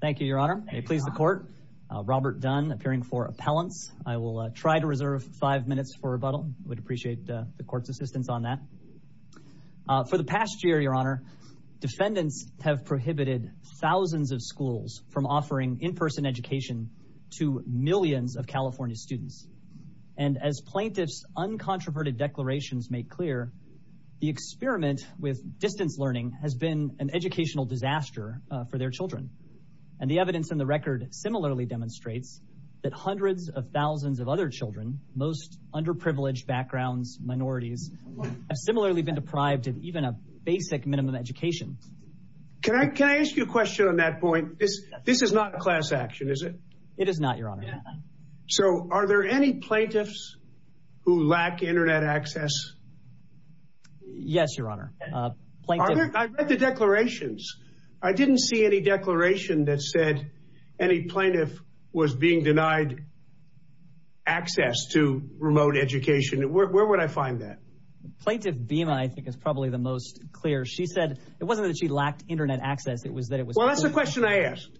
Thank you, Your Honor. I please the court. Robert Dunn appearing for appellants. I will try to reserve five minutes for rebuttal. I would appreciate the court's assistance on that. For the past year, Your Honor, defendants have prohibited thousands of schools from offering in-person education to millions of California students. And as plaintiffs' uncontroverted declarations make clear, the experiment with distance learning has been an educational disaster for their children. And the evidence in the record similarly demonstrates that hundreds of thousands of other children, most underprivileged backgrounds, minorities, have similarly been deprived of even a basic minimum education. Can I ask you a question on that point? This is not a class action, is it? It is not, Your Honor. So are there any plaintiffs who lack internet access? Yes, Your Honor. Are there? I read the declarations. I didn't see any declaration that said any plaintiff was being denied access to remote education. Where would I find that? Plaintiff Bima, I think, is probably the most clear. She said it wasn't that she lacked internet access. It was that it was... Well, that's the question I asked.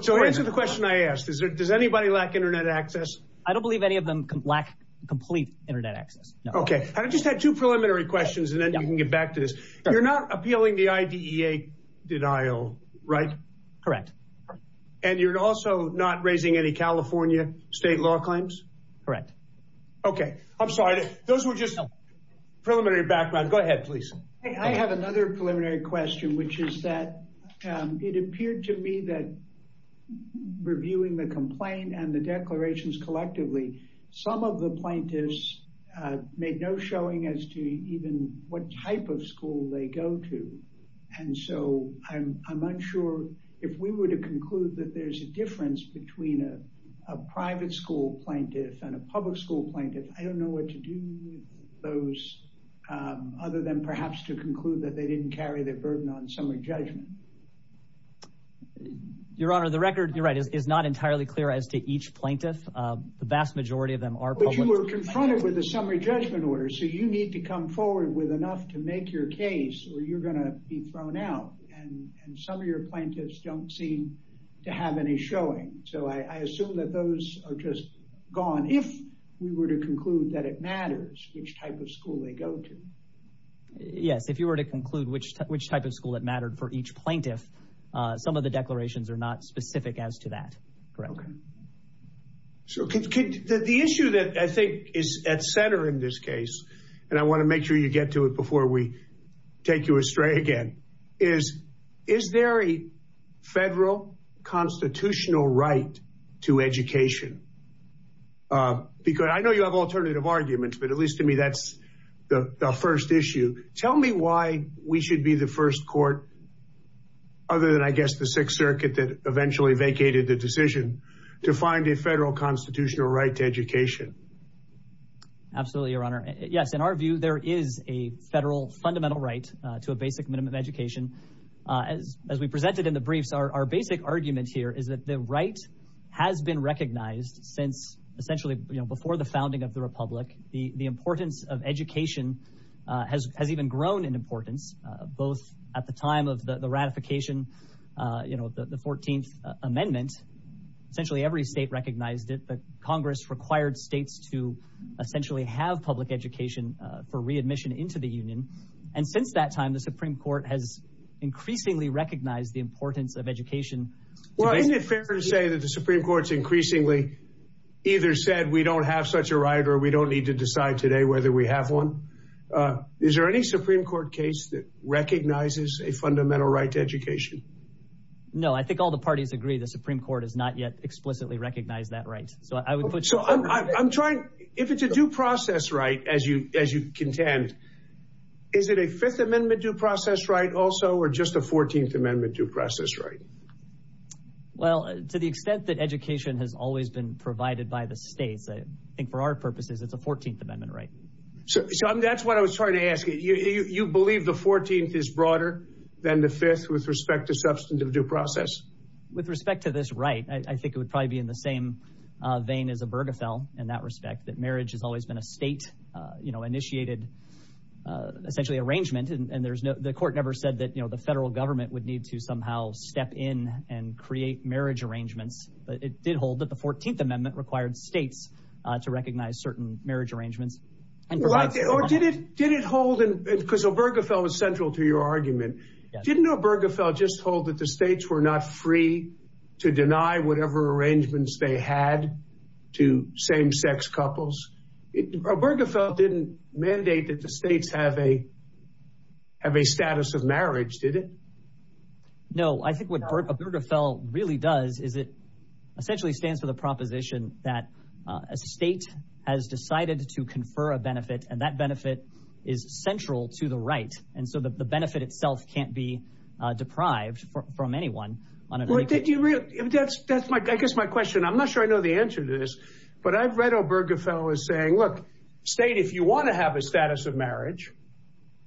So answer the question I asked. Does anybody lack internet access? I don't believe any of them lack complete internet access, no. I just had two preliminary questions, and then you can get back to this. You're not appealing the IDEA denial, right? Correct. And you're also not raising any California state law claims? Correct. Okay. I'm sorry. Those were just preliminary backgrounds. Go ahead, please. I have another preliminary question, which is that it appeared to me that reviewing the complaint and the declarations collectively, some of the plaintiffs made no showing as to even what type of school they go to. And so I'm unsure if we were to conclude that there's a difference between a private school plaintiff and a public school plaintiff. I don't know what to do with those, other than perhaps to conclude that they didn't carry their burden on summary judgment. Your Honor, the record, you're right, is not entirely clear as to each plaintiff. The vast majority of them are public school plaintiffs. But you were confronted with a summary judgment order, so you need to come forward with enough to make your case or you're going to be thrown out. And some of your plaintiffs don't seem to have any showing. So I assume that those are just gone, if we were to conclude that it matters which type of school they go to. Yes. If you were to conclude which type of school that mattered for each plaintiff, some of the declarations are not specific as to that, correct? Okay. So the issue that I think is at center in this case, and I want to make sure you get to it before we take you astray again, is, is there a federal constitutional right to education? Because I know you have alternative arguments, but at least to me, that's the first issue. Tell me why we should be the first court, other than, I guess, the Sixth Circuit that eventually vacated the decision, to find a federal constitutional right to education. Absolutely, Your Honor. Yes, in our view, there is a federal fundamental right to a basic minimum education. As we presented in the briefs, our basic argument here is that the right has been recognized since, essentially, before the founding of the Republic. The importance of education has even grown in importance, both at the time of the ratification of the 14th Amendment. Essentially, every state recognized it, but Congress required states to essentially have public education for readmission into the Union. And since that time, the Supreme Court has increasingly recognized the importance of education. Well, isn't it fair to say that the Supreme Court's increasingly either said, we don't have such a right or we don't need to decide today whether we have one? Is there any Supreme Court case that recognizes a fundamental right to education? No, I think all the parties agree the Supreme Court has not yet explicitly recognized that right. So I would put... So I'm trying, if it's a due process right, as you contend, is it a Fifth Amendment due process right also, or just a 14th Amendment due process right? Well, to the extent that education has always been provided by the states, I think for our purposes, it's a 14th Amendment right. So that's what I was trying to ask you. You believe the 14th is broader than the Fifth with respect to substantive due process? With respect to this right, I think it would probably be in the same vein as Obergefell in that respect, that marriage has always been a state-initiated, essentially, arrangement. And the court never said that the federal government would need to step in and create marriage arrangements, but it did hold that the 14th Amendment required states to recognize certain marriage arrangements. Or did it hold... Because Obergefell was central to your argument. Didn't Obergefell just hold that the states were not free to deny whatever arrangements they had to same-sex couples? Obergefell didn't mandate that the states have a status of marriage, did it? No, I think what Obergefell really does is it essentially stands for the proposition that a state has decided to confer a benefit, and that benefit is central to the right. And so the benefit itself can't be deprived from anyone. I guess my question, I'm not sure I know the answer to this, but I've read Obergefell as saying, look, state, if you want to have a status of marriage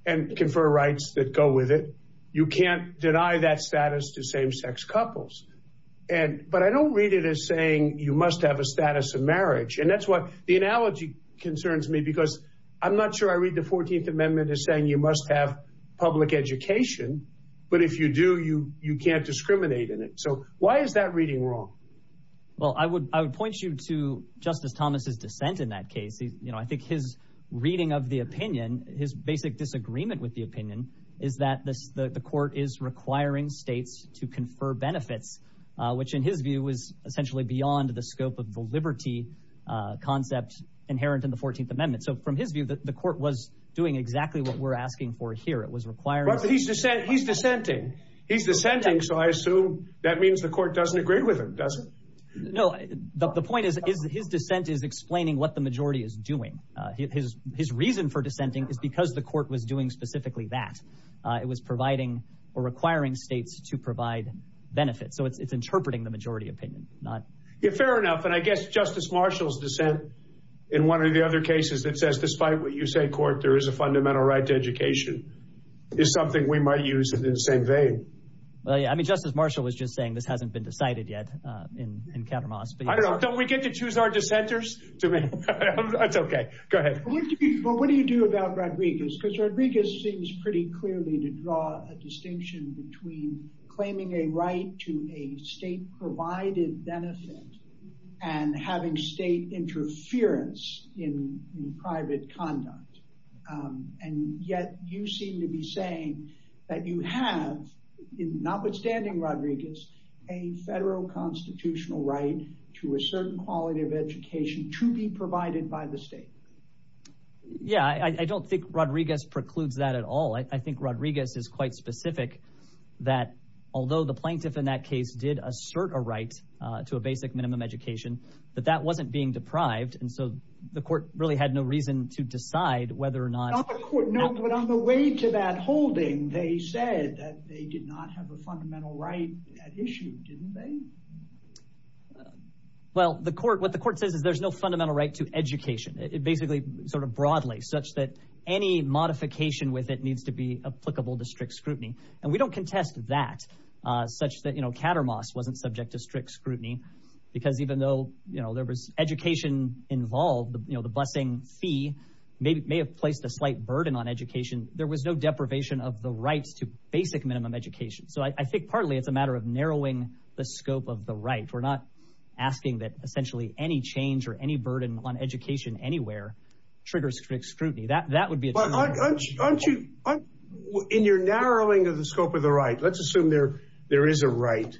and confer rights that go with it, you can't deny that status to same-sex couples. But I don't read it as saying you must have a status of marriage. And that's what the analogy concerns me, because I'm not sure I read the 14th Amendment as saying you must have public education, but if you do, you can't discriminate in it. So why is that reading wrong? Well, I would point you to Justice Thomas's dissent in that case. I think his reading of his basic disagreement with the opinion is that the court is requiring states to confer benefits, which in his view was essentially beyond the scope of the liberty concept inherent in the 14th Amendment. So from his view, the court was doing exactly what we're asking for here. He's dissenting. He's dissenting, so I assume that means the court doesn't agree with him, does it? No, the point is his dissent is explaining what the majority is doing. His reason for dissenting is because the court was doing specifically that. It was providing or requiring states to provide benefits. So it's interpreting the majority opinion, not... Yeah, fair enough. And I guess Justice Marshall's dissent in one of the other cases that says, despite what you say, court, there is a fundamental right to education, is something we might use in the same vein. Well, yeah, I mean, Justice Marshall was just cited yet in Kattermoss. I don't know. Don't we get to choose our dissenters? It's okay. Go ahead. Well, what do you do about Rodriguez? Because Rodriguez seems pretty clearly to draw a distinction between claiming a right to a state-provided benefit and having state interference in private conduct. And yet you seem to be saying that you have, notwithstanding Rodriguez, a federal constitutional right to a certain quality of education to be provided by the state. Yeah, I don't think Rodriguez precludes that at all. I think Rodriguez is quite specific that although the plaintiff in that case did assert a right to a basic minimum education, that that wasn't being deprived. And so the court really had no reason to decide whether or not... They did not have a fundamental right at issue, didn't they? Well, what the court says is there's no fundamental right to education. It basically, sort of broadly, such that any modification with it needs to be applicable to strict scrutiny. And we don't contest that, such that Kattermoss wasn't subject to strict scrutiny, because even though there was education involved, the busing fee may have placed a slight burden on education. There was no deprivation of the rights to basic minimum education. So I think partly it's a matter of narrowing the scope of the right. We're not asking that essentially any change or any burden on education anywhere triggers strict scrutiny. That would be... In your narrowing of the scope of the right, let's assume there is a right.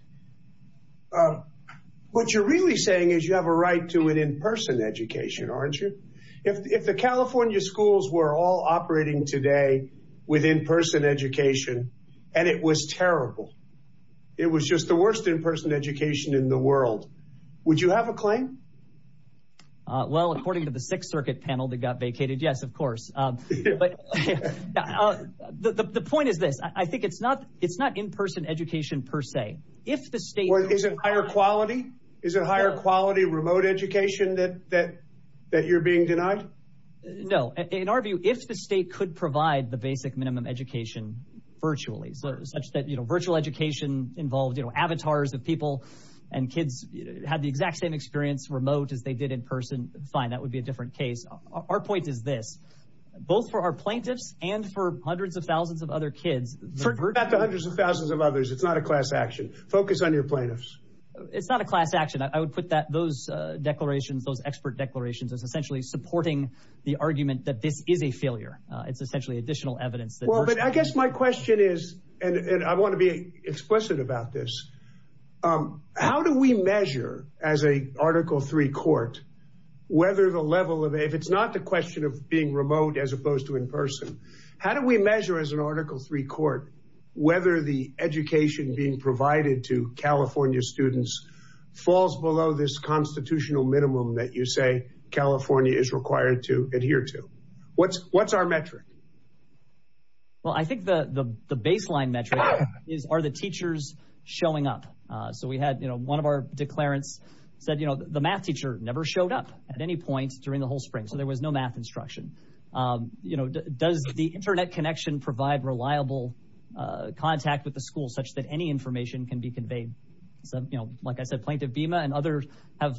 What you're really saying is you have a right to an in-person education, aren't you? If the California schools were all operating today with in-person education and it was terrible, it was just the worst in-person education in the world, would you have a claim? Well, according to the Sixth Circuit panel that got vacated, yes, of course. The point is this. I think it's not in-person education per se. If the state... Is it higher quality remote education that you're being denied? No. In our view, if the state could provide the basic minimum education virtually, such that virtual education involved avatars of people and kids had the exact same experience remote as they did in person, fine. That would be a different case. Our point is this. Both for our plaintiffs and for hundreds of thousands of other kids... Turn that to hundreds of thousands of others. It's not a class action. Focus on your plaintiffs. It's not a class action. I would put those declarations, those expert declarations, as essentially supporting the argument that this is a failure. It's essentially additional evidence that... Well, but I guess my question is, and I want to be explicit about this, how do we measure as an Article III court whether the level of... If it's not the question of being remote as opposed to in-person, how do we measure as an Article III court whether the education being provided to California students falls below this constitutional minimum that you say California is required to adhere to? What's our metric? Well, I think the baseline metric is, are the teachers showing up? So we had one of our declarants said, the math teacher never showed up at any point during the whole spring. So there was no math instruction. Does the internet connection provide reliable contact with the information? Any information can be conveyed. Like I said, Plaintiff Bima and others have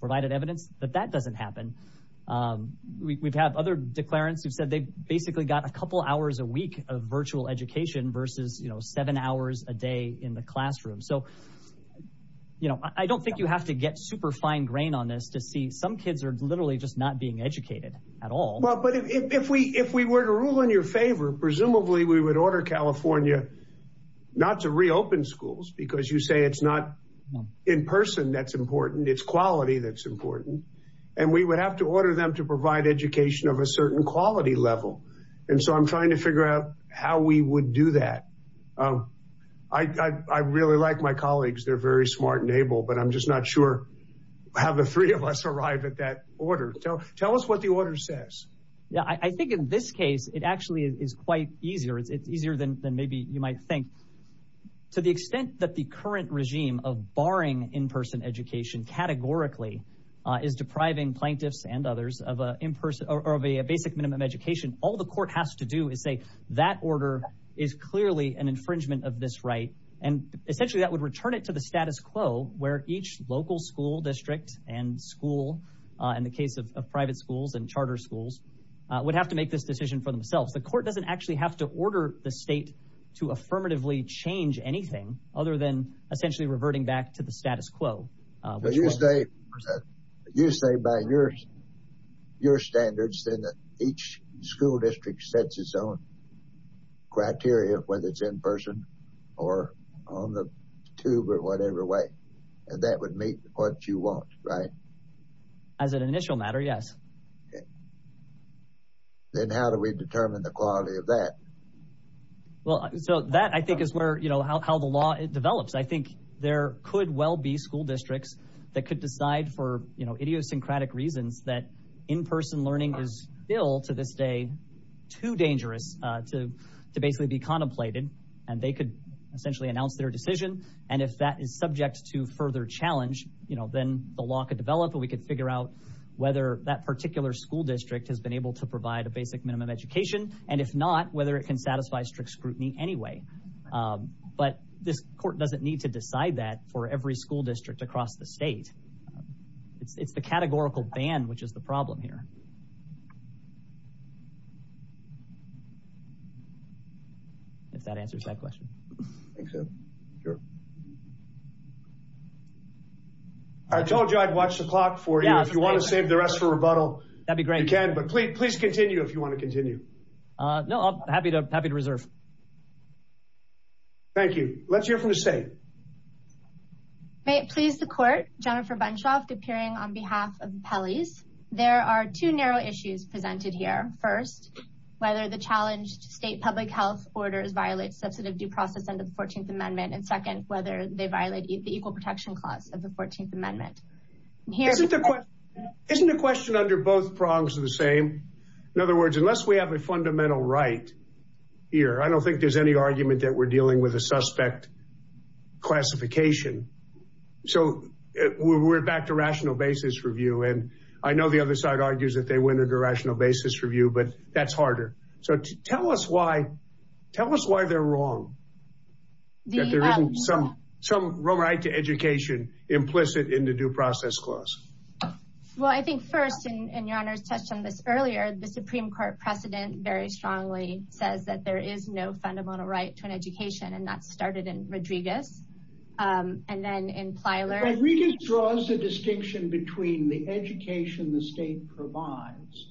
provided evidence that that doesn't happen. We've had other declarants who've said they've basically got a couple hours a week of virtual education versus seven hours a day in the classroom. So I don't think you have to get super fine grain on this to see some kids are literally just not being educated at all. But if we were to rule in your favor, presumably we would order California not to reopen schools because you say it's not in-person that's important, it's quality that's important. And we would have to order them to provide education of a certain quality level. And so I'm trying to figure out how we would do that. I really like my colleagues. They're very smart and able, but I'm just not sure how the three of us arrive at that order. Tell us what the order says. I think in this case, it actually is quite easier. It's easier than maybe you might think. To the extent that the current regime of barring in-person education categorically is depriving plaintiffs and others of a basic minimum education, all the court has to do is say that order is clearly an infringement of this right. And essentially that would return it to status quo where each local school district and school in the case of private schools and charter schools would have to make this decision for themselves. The court doesn't actually have to order the state to affirmatively change anything other than essentially reverting back to the status quo. You say by your standards that each school district sets its own criteria, whether it's in-person or on the tube or whatever way, and that would meet what you want, right? As an initial matter, yes. Then how do we determine the quality of that? Well, so that I think is how the law develops. I think there could well be school districts that could decide for idiosyncratic reasons that in-person learning is still to this day too dangerous to basically be contemplated, and they could essentially announce their decision. And if that is subject to further challenge, then the law could develop and we could figure out whether that particular school district has been able to provide a basic minimum education, and if not, whether it can satisfy strict scrutiny anyway. But this court doesn't need to decide that for every school district across the state. It's the categorical ban which is the problem here. I told you I'd watch the clock for you. If you want to save the rest for rebuttal, that'd be great. But please continue if you want to continue. No, I'm happy to reserve. Thank you. Let's hear from the state. May it please the court, Jennifer Bunchoff, appearing on behalf of the Pelley's. There are two narrow issues presented here. First, whether the challenged state public health orders violate substantive due process under the 14th Amendment. And second, whether they violate the Equal Protection Clause of the 14th Amendment. Isn't the question under both prongs the same? In other words, unless we have a fundamental right here, I don't think there's any argument that we're dealing with a suspect classification. So we're back to rational basis review. And I know the other side argues that we're in a rational basis review, but that's harder. So tell us why. Tell us why they're wrong. There isn't some right to education implicit in the Due Process Clause. Well, I think first, and your honors touched on this earlier, the Supreme Court precedent very strongly says that there is no fundamental right to an education. And that started in Rodriguez draws a distinction between the education the state provides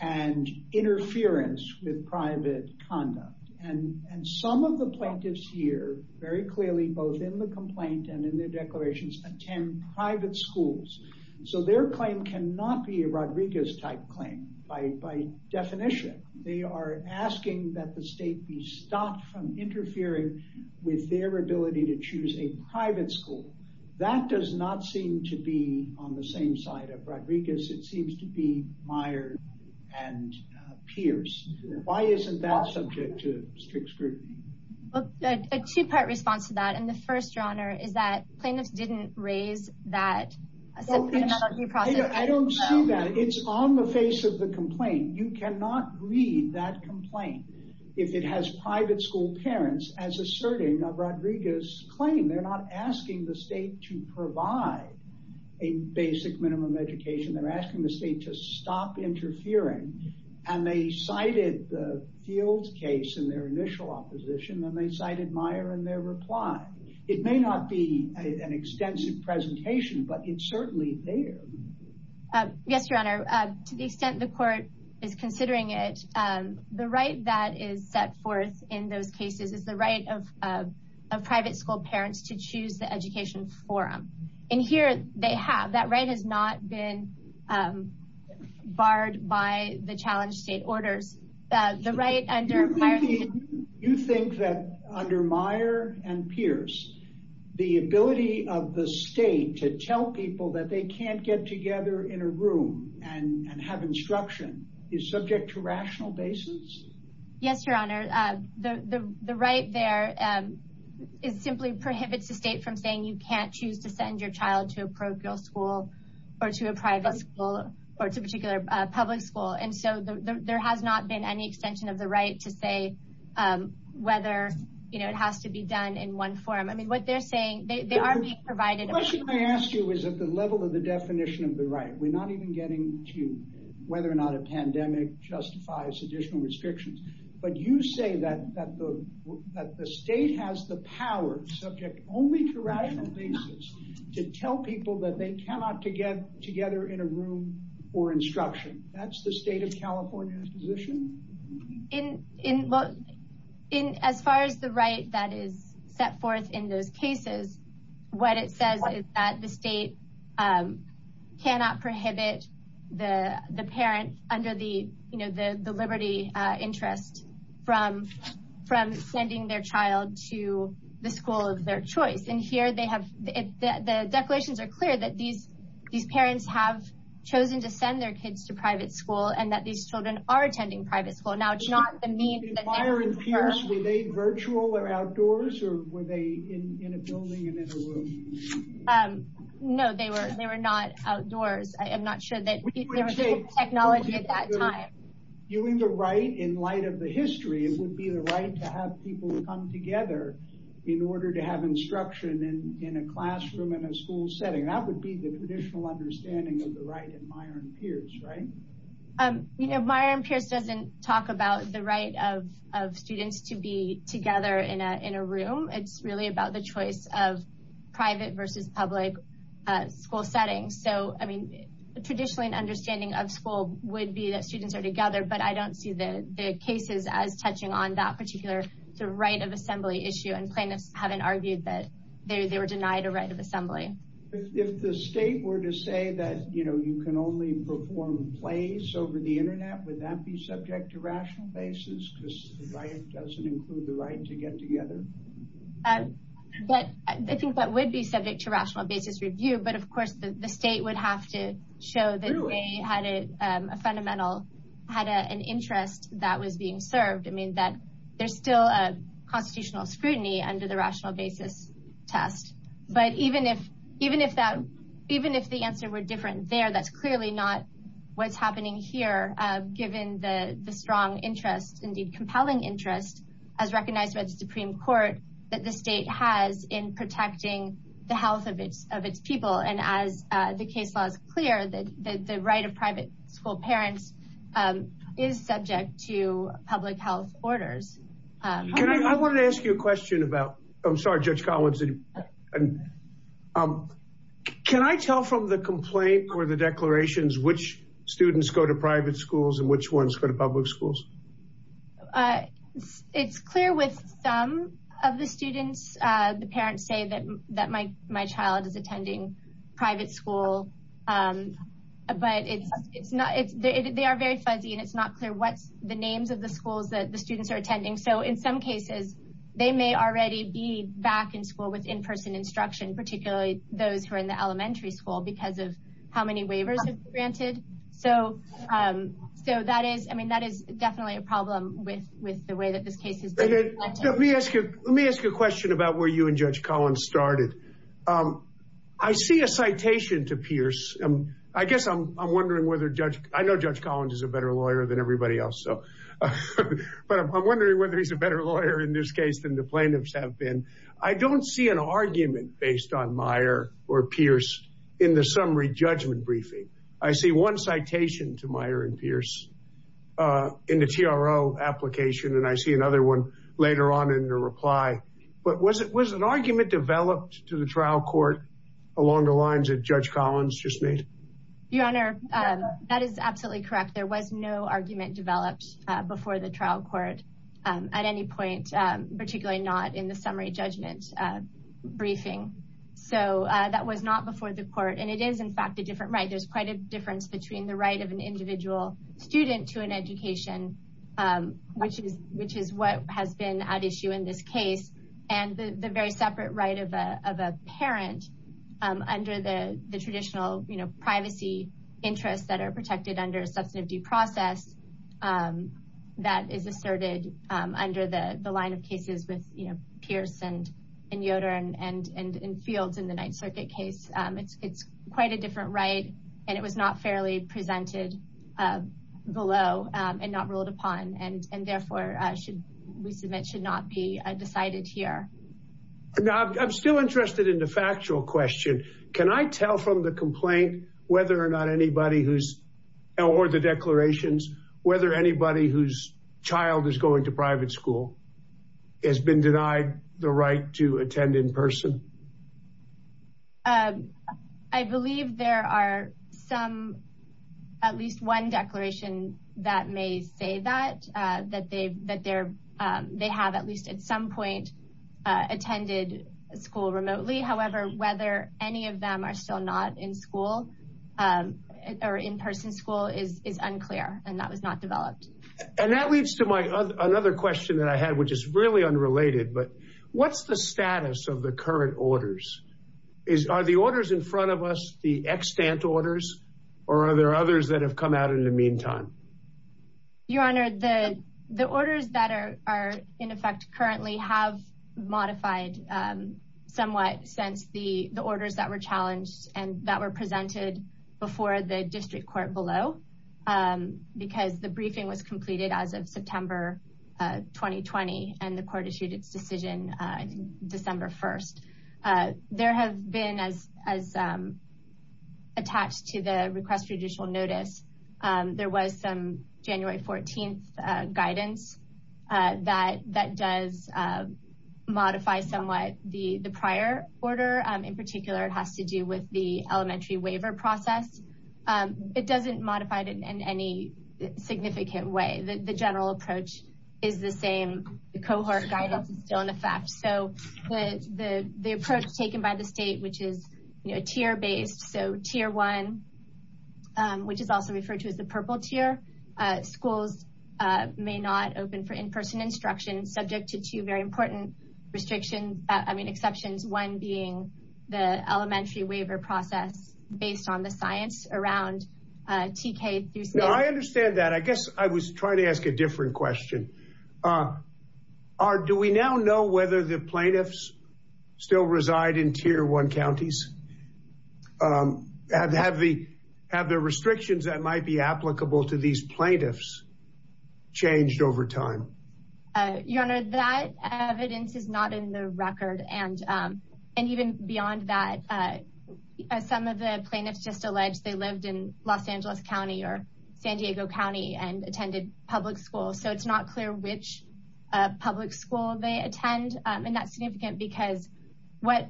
and interference with private conduct. And some of the plaintiffs here very clearly, both in the complaint and in their declarations, attend private schools. So their claim cannot be a Rodriguez type claim. By definition, they are asking that the state be stopped from interfering with their ability to that does not seem to be on the same side of Rodriguez. It seems to be Meyers and Pierce. Why isn't that subject to strict scrutiny? A two part response to that. And the first, your honor, is that plaintiffs didn't raise that. I don't see that. It's on the face of the complaint. You cannot read that complaint. If it has private school parents as asserting a Rodriguez claim, they're not asking the state to provide a basic minimum education. They're asking the state to stop interfering. And they cited the field case in their initial opposition, and they cited Meyer and their reply. It may not be an extensive presentation, but it's certainly there. Yes, your honor. To the extent the court is considering it, the right that is set forth in those cases is the right of a private school parents to choose the education forum. And here they have. That right has not been barred by the challenge state orders. You think that under Meyer and Pierce, the ability of the state to tell people that they can't get together in a room and have instruction is subject to rational basis? Yes, your honor. The right there is simply prohibits the state from saying you can't choose to send your child to a parochial school or to a private school or to a particular public school. And so there has not been any extension of the right to say whether it has to be done in one form. I mean, what they're saying, they are being provided. The question I ask you is at the level of the definition of the right. We're not even getting to whether or not a pandemic justifies additional restrictions. But you say that the state has the power subject only to rational basis to tell people that they cannot get together in a room or instruction. That's the state of California's position? In as far as the right that is set forth in those cases, what it says is that the state cannot prohibit the parent under the liberty interest from sending their child to the school of their choice. And here they have the declarations are clear that these parents have chosen to send their kids to private school and that these children are attending private school. Now, it's not the means that they prefer. Were they virtual or outdoors or were they in a building and in a room? No, they were not outdoors. I am not sure that technology at that time. You mean the right in light of the history, it would be the right to have people come together in order to have instruction in a classroom and a school setting. That would be the traditional understanding of the right in Meijer and Pierce, right? Meijer and Pierce doesn't talk about the right of students to be together in a room. It's really about the choice of private versus public school settings. So, I mean, traditionally an understanding of school would be that students are together, but I don't see the cases as touching on that particular right of assembly issue and plaintiffs haven't argued that they were denied a right of assembly. Would you say that you can only perform plays over the internet? Would that be subject to rational basis because the right doesn't include the right to get together? I think that would be subject to rational basis review, but of course the state would have to show that they had an interest that was being served. I mean, there's still a constitutional scrutiny under the rational basis test, but even if the answer were different there, that's clearly not what's happening here given the strong interest, indeed compelling interest, as recognized by the Supreme Court that the state has in protecting the health of its people. And as the case law is clear, the right of private school parents is subject to public health orders. Can I, I wanted to ask you a question about, I'm sorry Judge Collins, can I tell from the complaint or the declarations which students go to private schools and which ones go to public schools? It's clear with some of the students, the parents say that my child is attending private school, but it's not, they are very fuzzy and it's not clear what's the names of the schools that the students are attending. So in some cases they may already be back in school with in-person instruction, particularly those who are in the elementary school because of how many waivers have been granted. So that is, I mean, that is definitely a problem with the way that this case is being collected. Let me ask you a question about where you and Judge Collins started. I see a citation to Pierce. I guess I'm wondering whether Judge, I know Judge Collins is a better lawyer than everybody else, but I'm wondering whether he's a better lawyer in this case than the plaintiffs have been. I don't see an argument based on Meyer or Pierce in the summary judgment briefing. I see one citation to Meyer and Pierce in the TRO application and I see another one later on in the reply. But was it, was an argument developed to the trial court along the lines that Collins just made? Your Honor, that is absolutely correct. There was no argument developed before the trial court at any point, particularly not in the summary judgment briefing. So that was not before the court and it is in fact a different right. There's quite a difference between the right of an individual student to an education, which is what has been at issue in this case, and the very separate right of a parent under the traditional privacy interests that are protected under a substantive due process that is asserted under the line of cases with Pierce and Yoder and Fields in the Ninth Circuit case. It's quite a different right and it was not fairly presented below and not ruled upon and therefore should we submit should not be decided here. Now, I'm still interested in the factual question. Can I tell from the complaint whether or not anybody who's, or the declarations, whether anybody whose child is going to private school has been denied the right to attend in person? I believe there are some, at least one declaration that may say that, that they've, that they have at least at some point attended school remotely. However, whether any of them are still not in school or in-person school is unclear and that was not developed. And that leads to my other question that I had, which is really unrelated, but what's the status of the current orders? Is, are the orders in front of us the extant orders or are there others that have come out in the meantime? Your Honor, the orders that are in effect currently have modified somewhat since the orders that were challenged and that were presented before the district court below, because the briefing was completed as of September 2020 and the court issued its decision December 1st. There have been, as attached to the request for judicial notice, there was some January 14th guidance that does modify somewhat the prior order. In particular, it has to do with the elementary waiver process. It doesn't modify it in any significant way. The general approach is the same. The cohort guidance is still in effect. So the approach taken by the state, which is, you know, tier based, so tier one, which is also referred to as the purple tier, schools may not open for in-person instruction subject to two very important restrictions. I mean, exceptions one being the elementary waiver process based on the science around TK. I understand that. I guess I was trying to ask a different question. Are, do we now know whether the plaintiffs still reside in tier one counties? Have the restrictions that might be applicable to these plaintiffs changed over time? Your Honor, that evidence is not in the record. And even beyond that, as some of the plaintiffs just alleged, they lived in Los Angeles County or San Diego County and attended public school. So it's not clear which public school they attend. And that's significant because what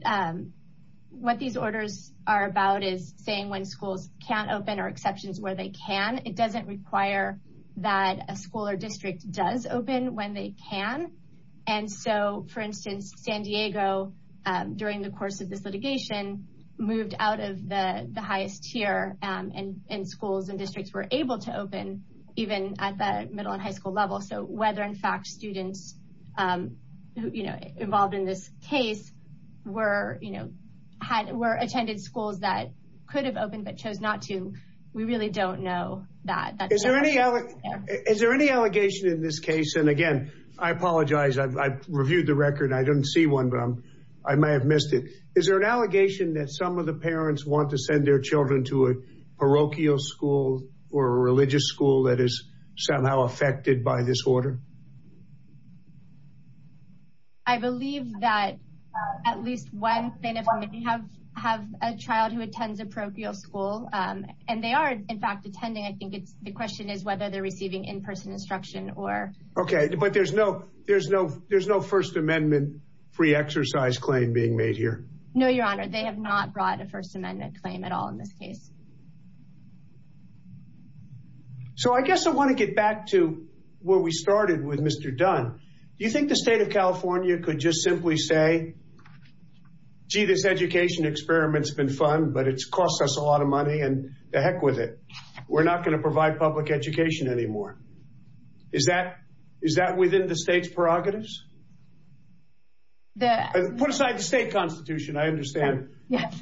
these orders are about is saying when schools can't open or exceptions where they can, it doesn't require that a school or district does open when they can. And so, for instance, San Diego, during the course of this litigation, moved out of the highest tier and schools and districts were able to open even at the middle and high school level. So whether in fact students who, you know, involved in this case were, you know, were attended schools that could have opened but chose not to, we really don't know that. Is there any allegation in this case? And again, I apologize. I've reviewed the record. I didn't see one, but I may have missed it. Is there an allegation that some of the parents want to send their children to a parochial school or a religious school that is somehow affected by this order? I believe that at least one parent may have a child who attends a parochial school. And they are, in fact, attending. I think it's the question is whether they're receiving in-person instruction or... Okay, but there's no First Amendment free exercise claim being made here? No, Your Honor. They have not brought a First Amendment claim at all in this case. So I guess I want to get back to where we started with Mr. Dunn. Do you think the state of California could just simply say, gee, this education experiment's been fun, but it's cost us a lot of money and to heck with it. We're not going to provide public education anymore. Is that within the state's prerogatives? Put aside the state constitution, I understand. Yes,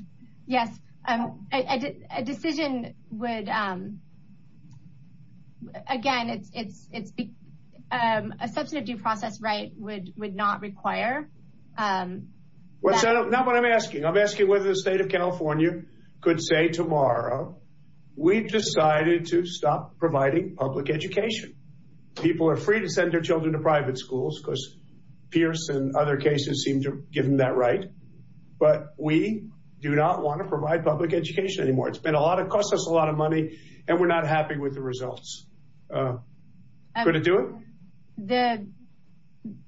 yes. I think a decision would... Again, a substantive due process right would not require... Not what I'm asking. I'm asking whether the state of California could say tomorrow, we've decided to stop providing public education. People are free to send their children to private schools because Pierce and other cases seem to give them that right. But we do not want to cost us a lot of money, and we're not happy with the results. Could it do it?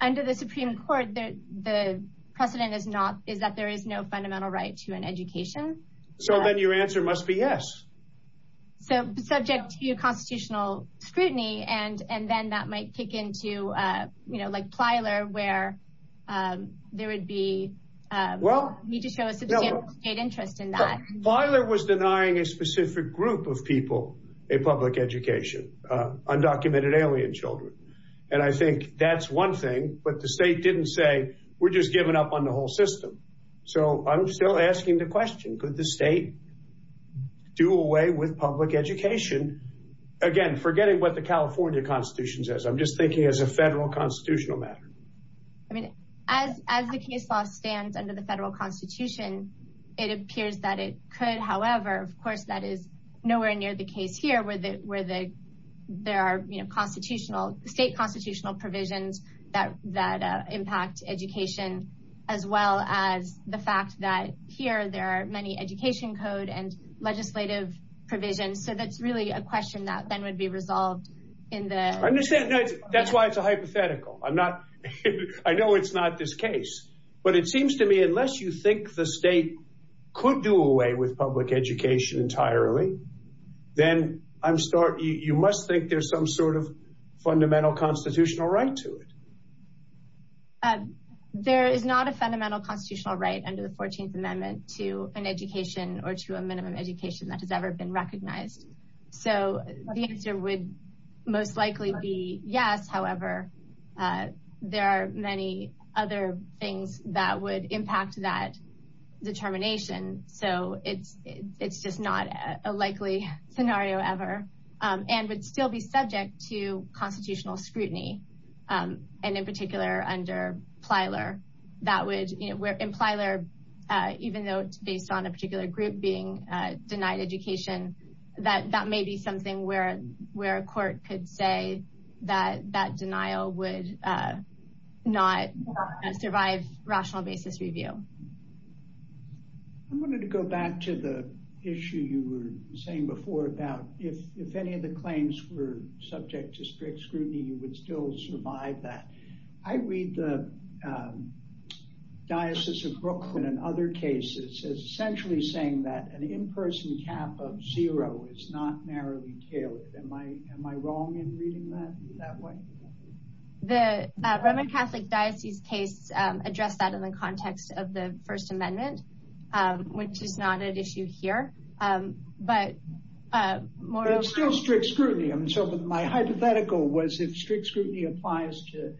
Under the Supreme Court, the precedent is that there is no fundamental right to an education. So then your answer must be yes. Subject to constitutional scrutiny, and then that might kick into Plyler where there would be... Need to show a substantial interest in that. Plyler was denying a specific group of people a public education, undocumented alien children. And I think that's one thing, but the state didn't say, we're just giving up on the whole system. So I'm still asking the question, could the state do away with public education? Again, forgetting what the California constitution says, I'm just thinking as a federal constitutional matter. I mean, as the case law stands under the federal constitution, it appears that it could. However, of course, that is nowhere near the case here where there are state constitutional provisions that impact education, as well as the fact that here there are many education code and legislative provisions. So that's really a question that then would be resolved in the... That's why it's a hypothetical. I know it's not this case, but it seems to me, unless you think the state could do away with public education entirely, then you must think there's some sort of fundamental constitutional right to it. There is not a fundamental constitutional right under the 14th amendment to an education or to yes. However, there are many other things that would impact that determination. So it's just not a likely scenario ever, and would still be subject to constitutional scrutiny. And in particular, under Plyler, that would... In Plyler, even though it's based on a particular group being denied education, that may be something where a court could say that that denial would not survive rational basis review. I wanted to go back to the issue you were saying before about if any of the claims were subject to strict scrutiny, you would still survive that. I read the Diocese of Brooklyn and other cases essentially saying that an in-person cap of zero is not narrowly tailored. Am I wrong in reading that that way? The Roman Catholic Diocese case addressed that in the context of the First Amendment, which is not an issue here, but more... Still strict scrutiny. My hypothetical was if strict scrutiny applies to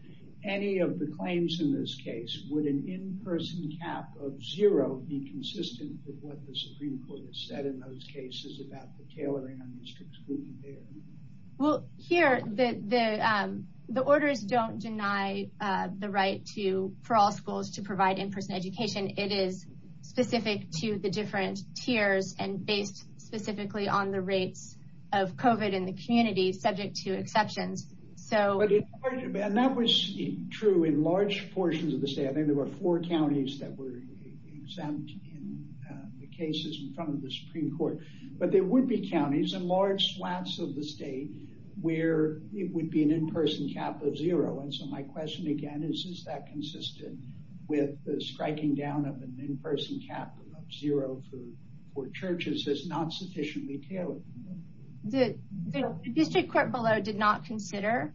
any of the claims in this case, would an in-person cap of zero be consistent with what the Supreme Court has said in those cases about the tailoring on the strict scrutiny there? Here, the orders don't deny the right for all schools to provide in-person education. It is specifically on the rates of COVID in the community subject to exceptions. That was true in large portions of the state. I think there were four counties that were exempt in the cases in front of the Supreme Court. There would be counties in large flats of the state where it would be an in-person cap of zero. My question again is, is that consistent with the striking down of an in-person cap of zero for churches as not sufficiently tailored? The district court below did not consider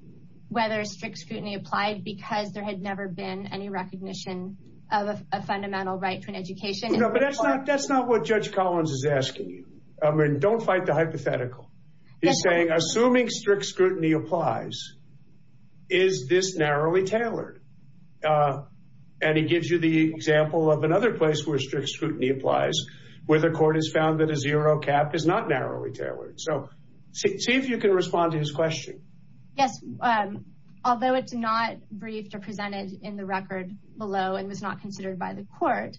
whether strict scrutiny applied because there had never been any recognition of a fundamental right to an education. No, but that's not what Judge Collins is asking you. I mean, don't fight the hypothetical. He's saying assuming strict scrutiny applies, is this narrowly tailored? He gives you the example of another place where strict scrutiny applies, where the court has found that a zero cap is not narrowly tailored. See if you can respond to his question. Yes. Although it's not briefed or presented in the record below and was not considered by the court,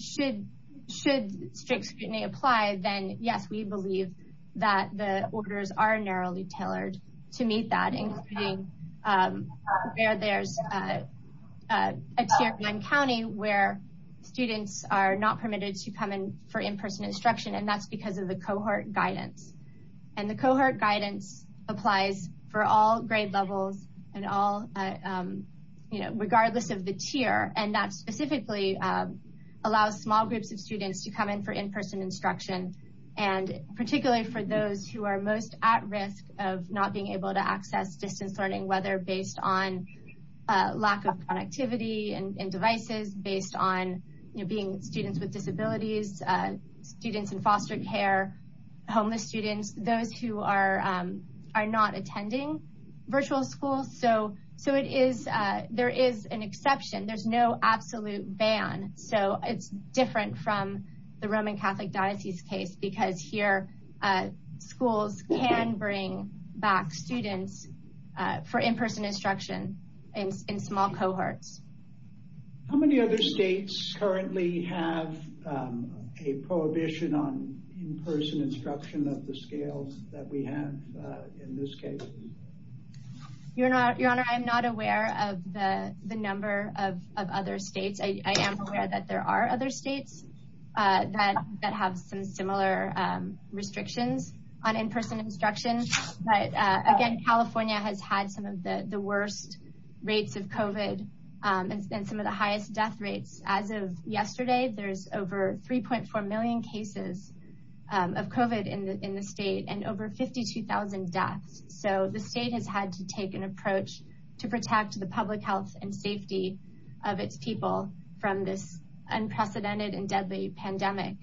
should strict scrutiny apply, then yes, we believe that the orders are narrowly tailored to meet that, including where there's a tier one county where students are not permitted to come in for in-person instruction, and that's because of the cohort guidance. And the cohort guidance applies for all grade levels regardless of the tier, and that specifically allows small groups of students to come in for in-person instruction, and particularly for those who are most at risk of not being able to access distance learning, whether based on lack of productivity and devices, based on being students with disabilities, students in foster care, homeless students, those who are not attending virtual school. So there is an exception. There's no absolute ban. So it's different from the Roman Catholic Diocese case because here, schools can bring back students for in-person instruction in small cohorts. How many other states currently have a prohibition on in-person instruction of the scales that we have in this case? Your Honor, I'm not aware of the number of other states. I am aware that there are other states that have some similar restrictions on in-person instruction, but again, California has had some of the worst rates of COVID and some of the highest death rates. As of yesterday, there's over 3.4 million cases of COVID in the state and over 52,000 deaths. So the state has had to take an approach to protect the public health and safety of its people from this unprecedented and deadly pandemic.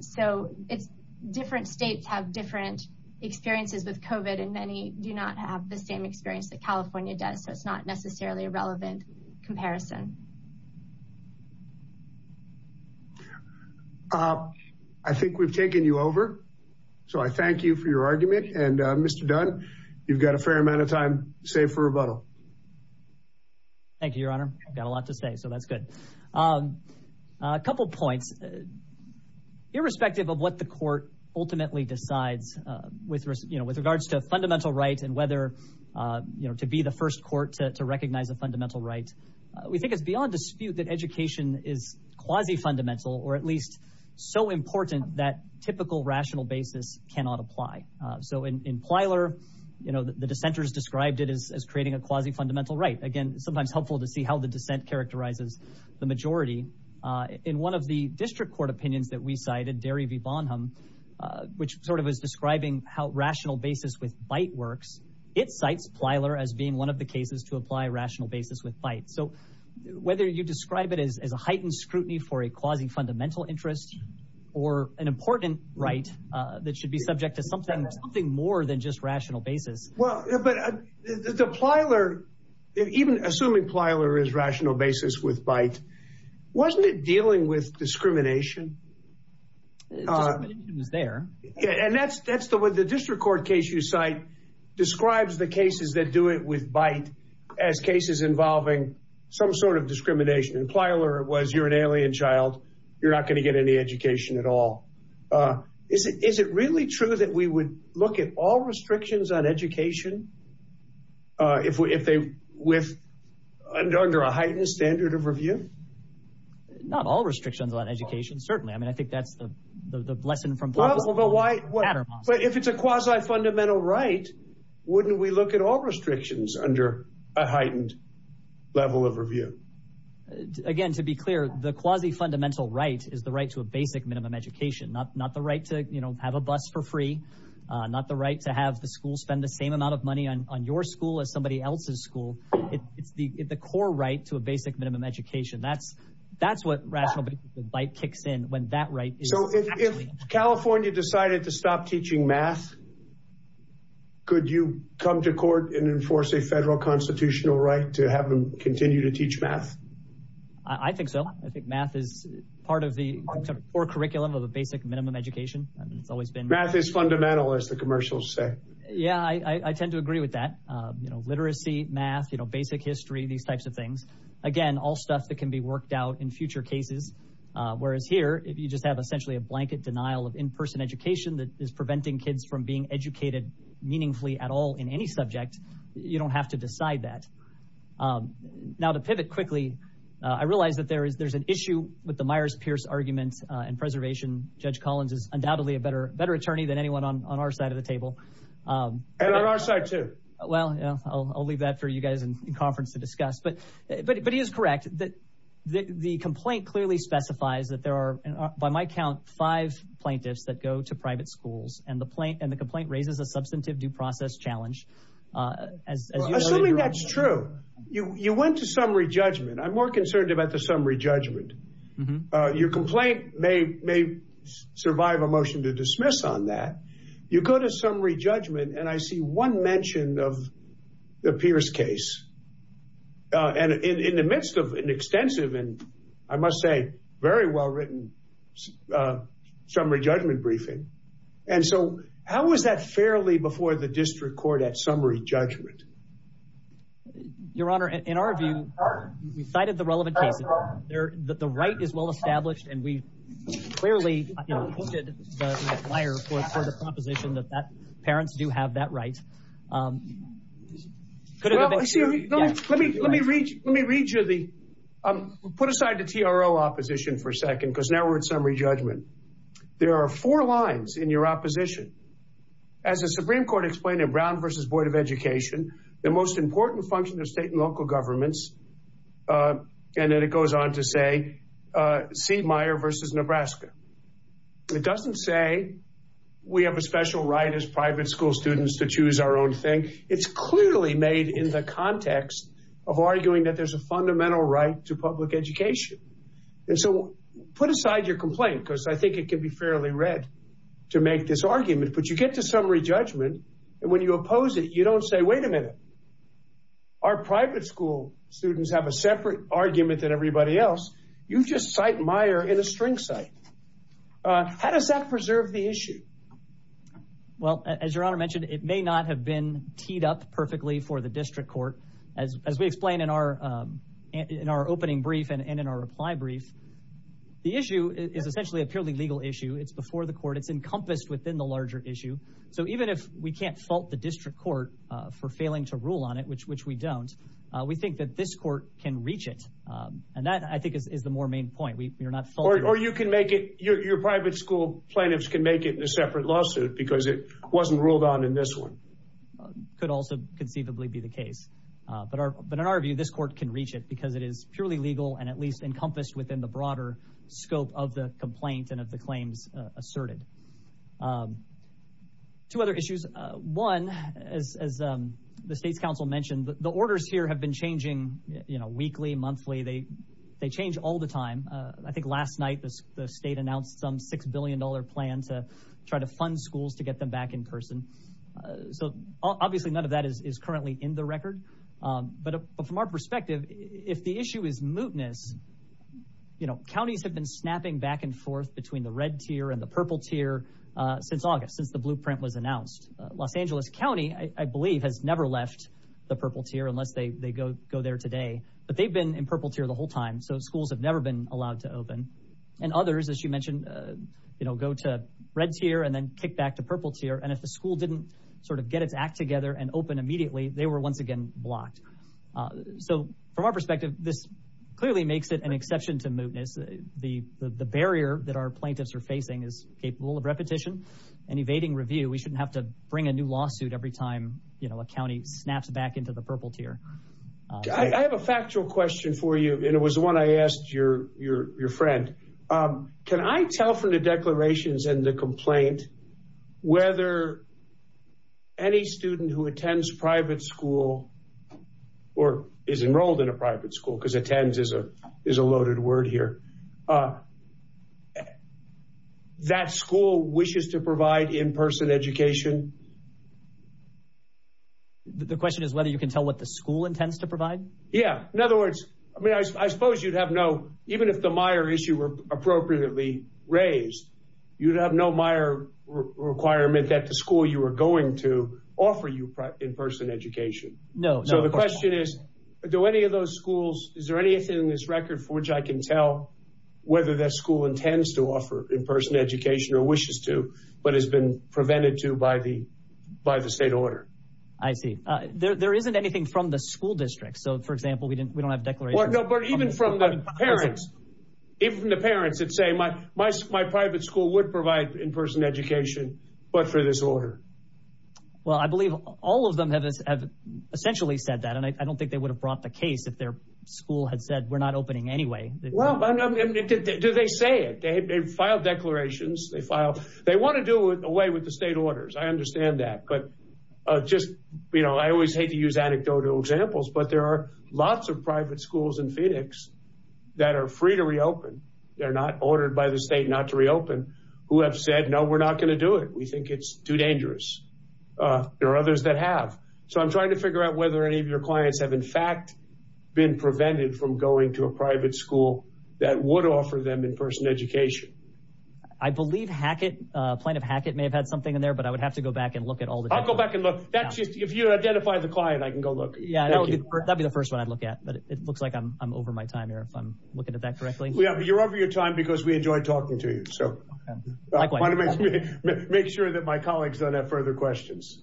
So it's different states have different experiences with COVID and many do not have the same experience that California does. So it's not necessarily a relevant comparison. I think we've taken you over. So I thank you for your argument and Mr. Dunn, you've got a fair amount of time save for rebuttal. Thank you, Your Honor. I've got a lot to say, so that's good. A couple of points. Irrespective of what the court ultimately decides with regards to fundamental rights and whether to be the first court to recognize a fundamental right, we think it's beyond dispute that education is quasi-fundamental or at least so important that typical rational basis cannot apply. So in Plyler, the dissenters described it as creating a quasi-fundamental right. Again, sometimes helpful to see how the dissent characterizes the majority. In one of the district court opinions that we cited, Derry v. Bonham, which sort of is describing how rational basis with bite works, it cites Plyler as being one of the cases to apply rational basis with bite. So whether you describe it as a heightened scrutiny for a quasi-fundamental interest or an important right that should subject to something more than just rational basis. Well, but the Plyler, even assuming Plyler is rational basis with bite, wasn't it dealing with discrimination? Discrimination was there. Yeah, and that's the way the district court case you cite describes the cases that do it with bite as cases involving some sort of discrimination. In Plyler, it was you're an alien child, you're not going to get any education at all. Is it really true that we would look at all restrictions on education under a heightened standard of review? Not all restrictions on education, certainly. I mean, I think that's the lesson from Plyler. If it's a quasi-fundamental right, wouldn't we look at all restrictions under a heightened level of review? Again, to be clear, the quasi-fundamental right is the right to a basic minimum education, not the right to have a bus for free, not the right to have the school spend the same amount of money on your school as somebody else's school. It's the core right to a basic minimum education. That's what rational bite kicks in when that right is. So if California decided to stop teaching math, could you come to court and enforce a federal constitutional right to have them continue to teach math? I think so. I think math is part of the core curriculum of a basic minimum education. Math is fundamental, as the commercials say. Yeah, I tend to agree with that. Literacy, math, basic history, these types of things. Again, all stuff that can be worked out in future cases. Whereas here, if you just have essentially a blanket denial of in-person education that is preventing kids from being educated meaningfully at all in any subject, you don't have to decide that. Now to pivot quickly, I realize that there is an issue with the Myers-Pierce argument in preservation. Judge Collins is undoubtedly a better attorney than anyone on our side of the table. And on our side too. Well, yeah, I'll leave that for you guys in conference to discuss. But he is correct. The complaint clearly specifies that there are, by my count, five plaintiffs that go to private schools. And the complaint raises a substantive due process challenge. Assuming that's true, you went to summary judgment. I'm more concerned about the summary judgment. Your complaint may survive a motion to dismiss on that. You go to summary judgment, and I see one mention of the Pierce case. And in the midst of an extensive and, I must say, very well-written summary judgment briefing. And so, how is that fairly before the district court at summary judgment? Your Honor, in our view, we cited the relevant cases. The right is well-established, and we clearly, you know, hooked the flyer for the proposition that parents do have that right. Let me read you the, put aside the TRO opposition for a second, because now we're at summary judgment. There are four lines in your opposition. As the Supreme Court explained in Brown v. Board of Education, the most important function of state and local governments, and then it goes on to say Siegmeyer v. Nebraska. It doesn't say we have a special right as private school students to choose our own thing. It's clearly made in the context of arguing that there's a fundamental right to public education. And so, put aside your complaint, because I think it can be fairly read to make this argument. But you get to summary judgment, and when you oppose it, you don't say, wait a minute, our private school students have a separate argument than everybody else. You just cite Meyer in a string cite. How does that preserve the issue? Well, as Your Honor mentioned, it may not have been teed up perfectly for the district court. As we explained in our opening brief and in our reply brief, the issue is essentially a purely legal issue. It's before the court. It's encompassed within the larger issue. So even if we can't fault the district court for failing to rule on it, which we don't, we think that this court can reach it. And that, I think, is the more main point. We are not faulted. Or you can make it, your private school plaintiffs can make it in a separate lawsuit because it wasn't ruled on in this one. Could also conceivably be the case. But in our view, this court can reach it because it is purely legal and at least encompassed within the broader scope of the complaint and of the claims asserted. Two other issues. One, as the state's counsel mentioned, the orders here have been changing weekly, monthly. They change all the time. I think last night the state announced some $6 billion plan to try to fund schools to get them back in person. So obviously none of that is currently in the record. But from our perspective, if the issue is mootness, counties have been snapping back and forth between the red tier and the purple tier since August, since the blueprint was announced. Los Angeles County, I believe, has never left the purple tier unless they go there today. But they've been in purple tier the whole time. So schools have never been allowed to open. And others, as you mentioned, go to red tier and then kick back to purple tier. And if the school didn't sort of get its act together and open immediately, they were once again blocked. So from our perspective, this clearly makes it an exception to mootness. The barrier that our plaintiffs are facing is capable of repetition and evading review. We shouldn't have to bring a new lawsuit every time, you know, a county snaps back into the purple tier. I have a factual question for you, and it was one I asked your friend. Can I tell from the private school, or is enrolled in a private school, because attends is a loaded word here, that school wishes to provide in-person education? The question is whether you can tell what the school intends to provide? Yeah. In other words, I mean, I suppose you'd have no, even if the Meyer issue were appropriately raised, you'd have no Meyer requirement that the school you were going to offer you in-person education. No. So the question is, do any of those schools, is there anything in this record for which I can tell whether that school intends to offer in-person education or wishes to, but has been prevented to by the state order? I see. There isn't anything from the school district. So for example, we don't have a declaration. No, but even from the parents, even the parents that say my private school would provide in-person education, but for this order. Well, I believe all of them have essentially said that, and I don't think they would have brought the case if their school had said, we're not opening anyway. Well, do they say it? They file declarations. They want to do away with the state orders. I understand that, but just, you know, I always hate to use anecdotal examples, but there are lots of private schools in Phoenix that are free to reopen. They're not ordered by the state not to reopen, who have said, no, we're not going to do it. We think it's too dangerous. There are others that have. So I'm trying to figure out whether any of your clients have in fact been prevented from going to a private school that would offer them in-person education. I believe Hackett, plaintiff Hackett may have had something in there, but I would have to go back and look at all the- I'll go back and look. That's just, if you identify the client, I can go look. Yeah, that'd be the first one I'd look at, but it looks like I'm over my time here, if I'm looking at that correctly. You're over your time because we enjoy talking to you. So make sure that my colleagues don't have further questions.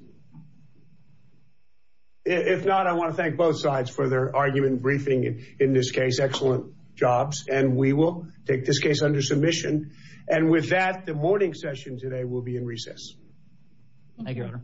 If not, I want to thank both sides for their argument briefing in this case. Excellent jobs. And we will take this case under submission. And with that, the morning session today will be in recess. Thank you, Otter.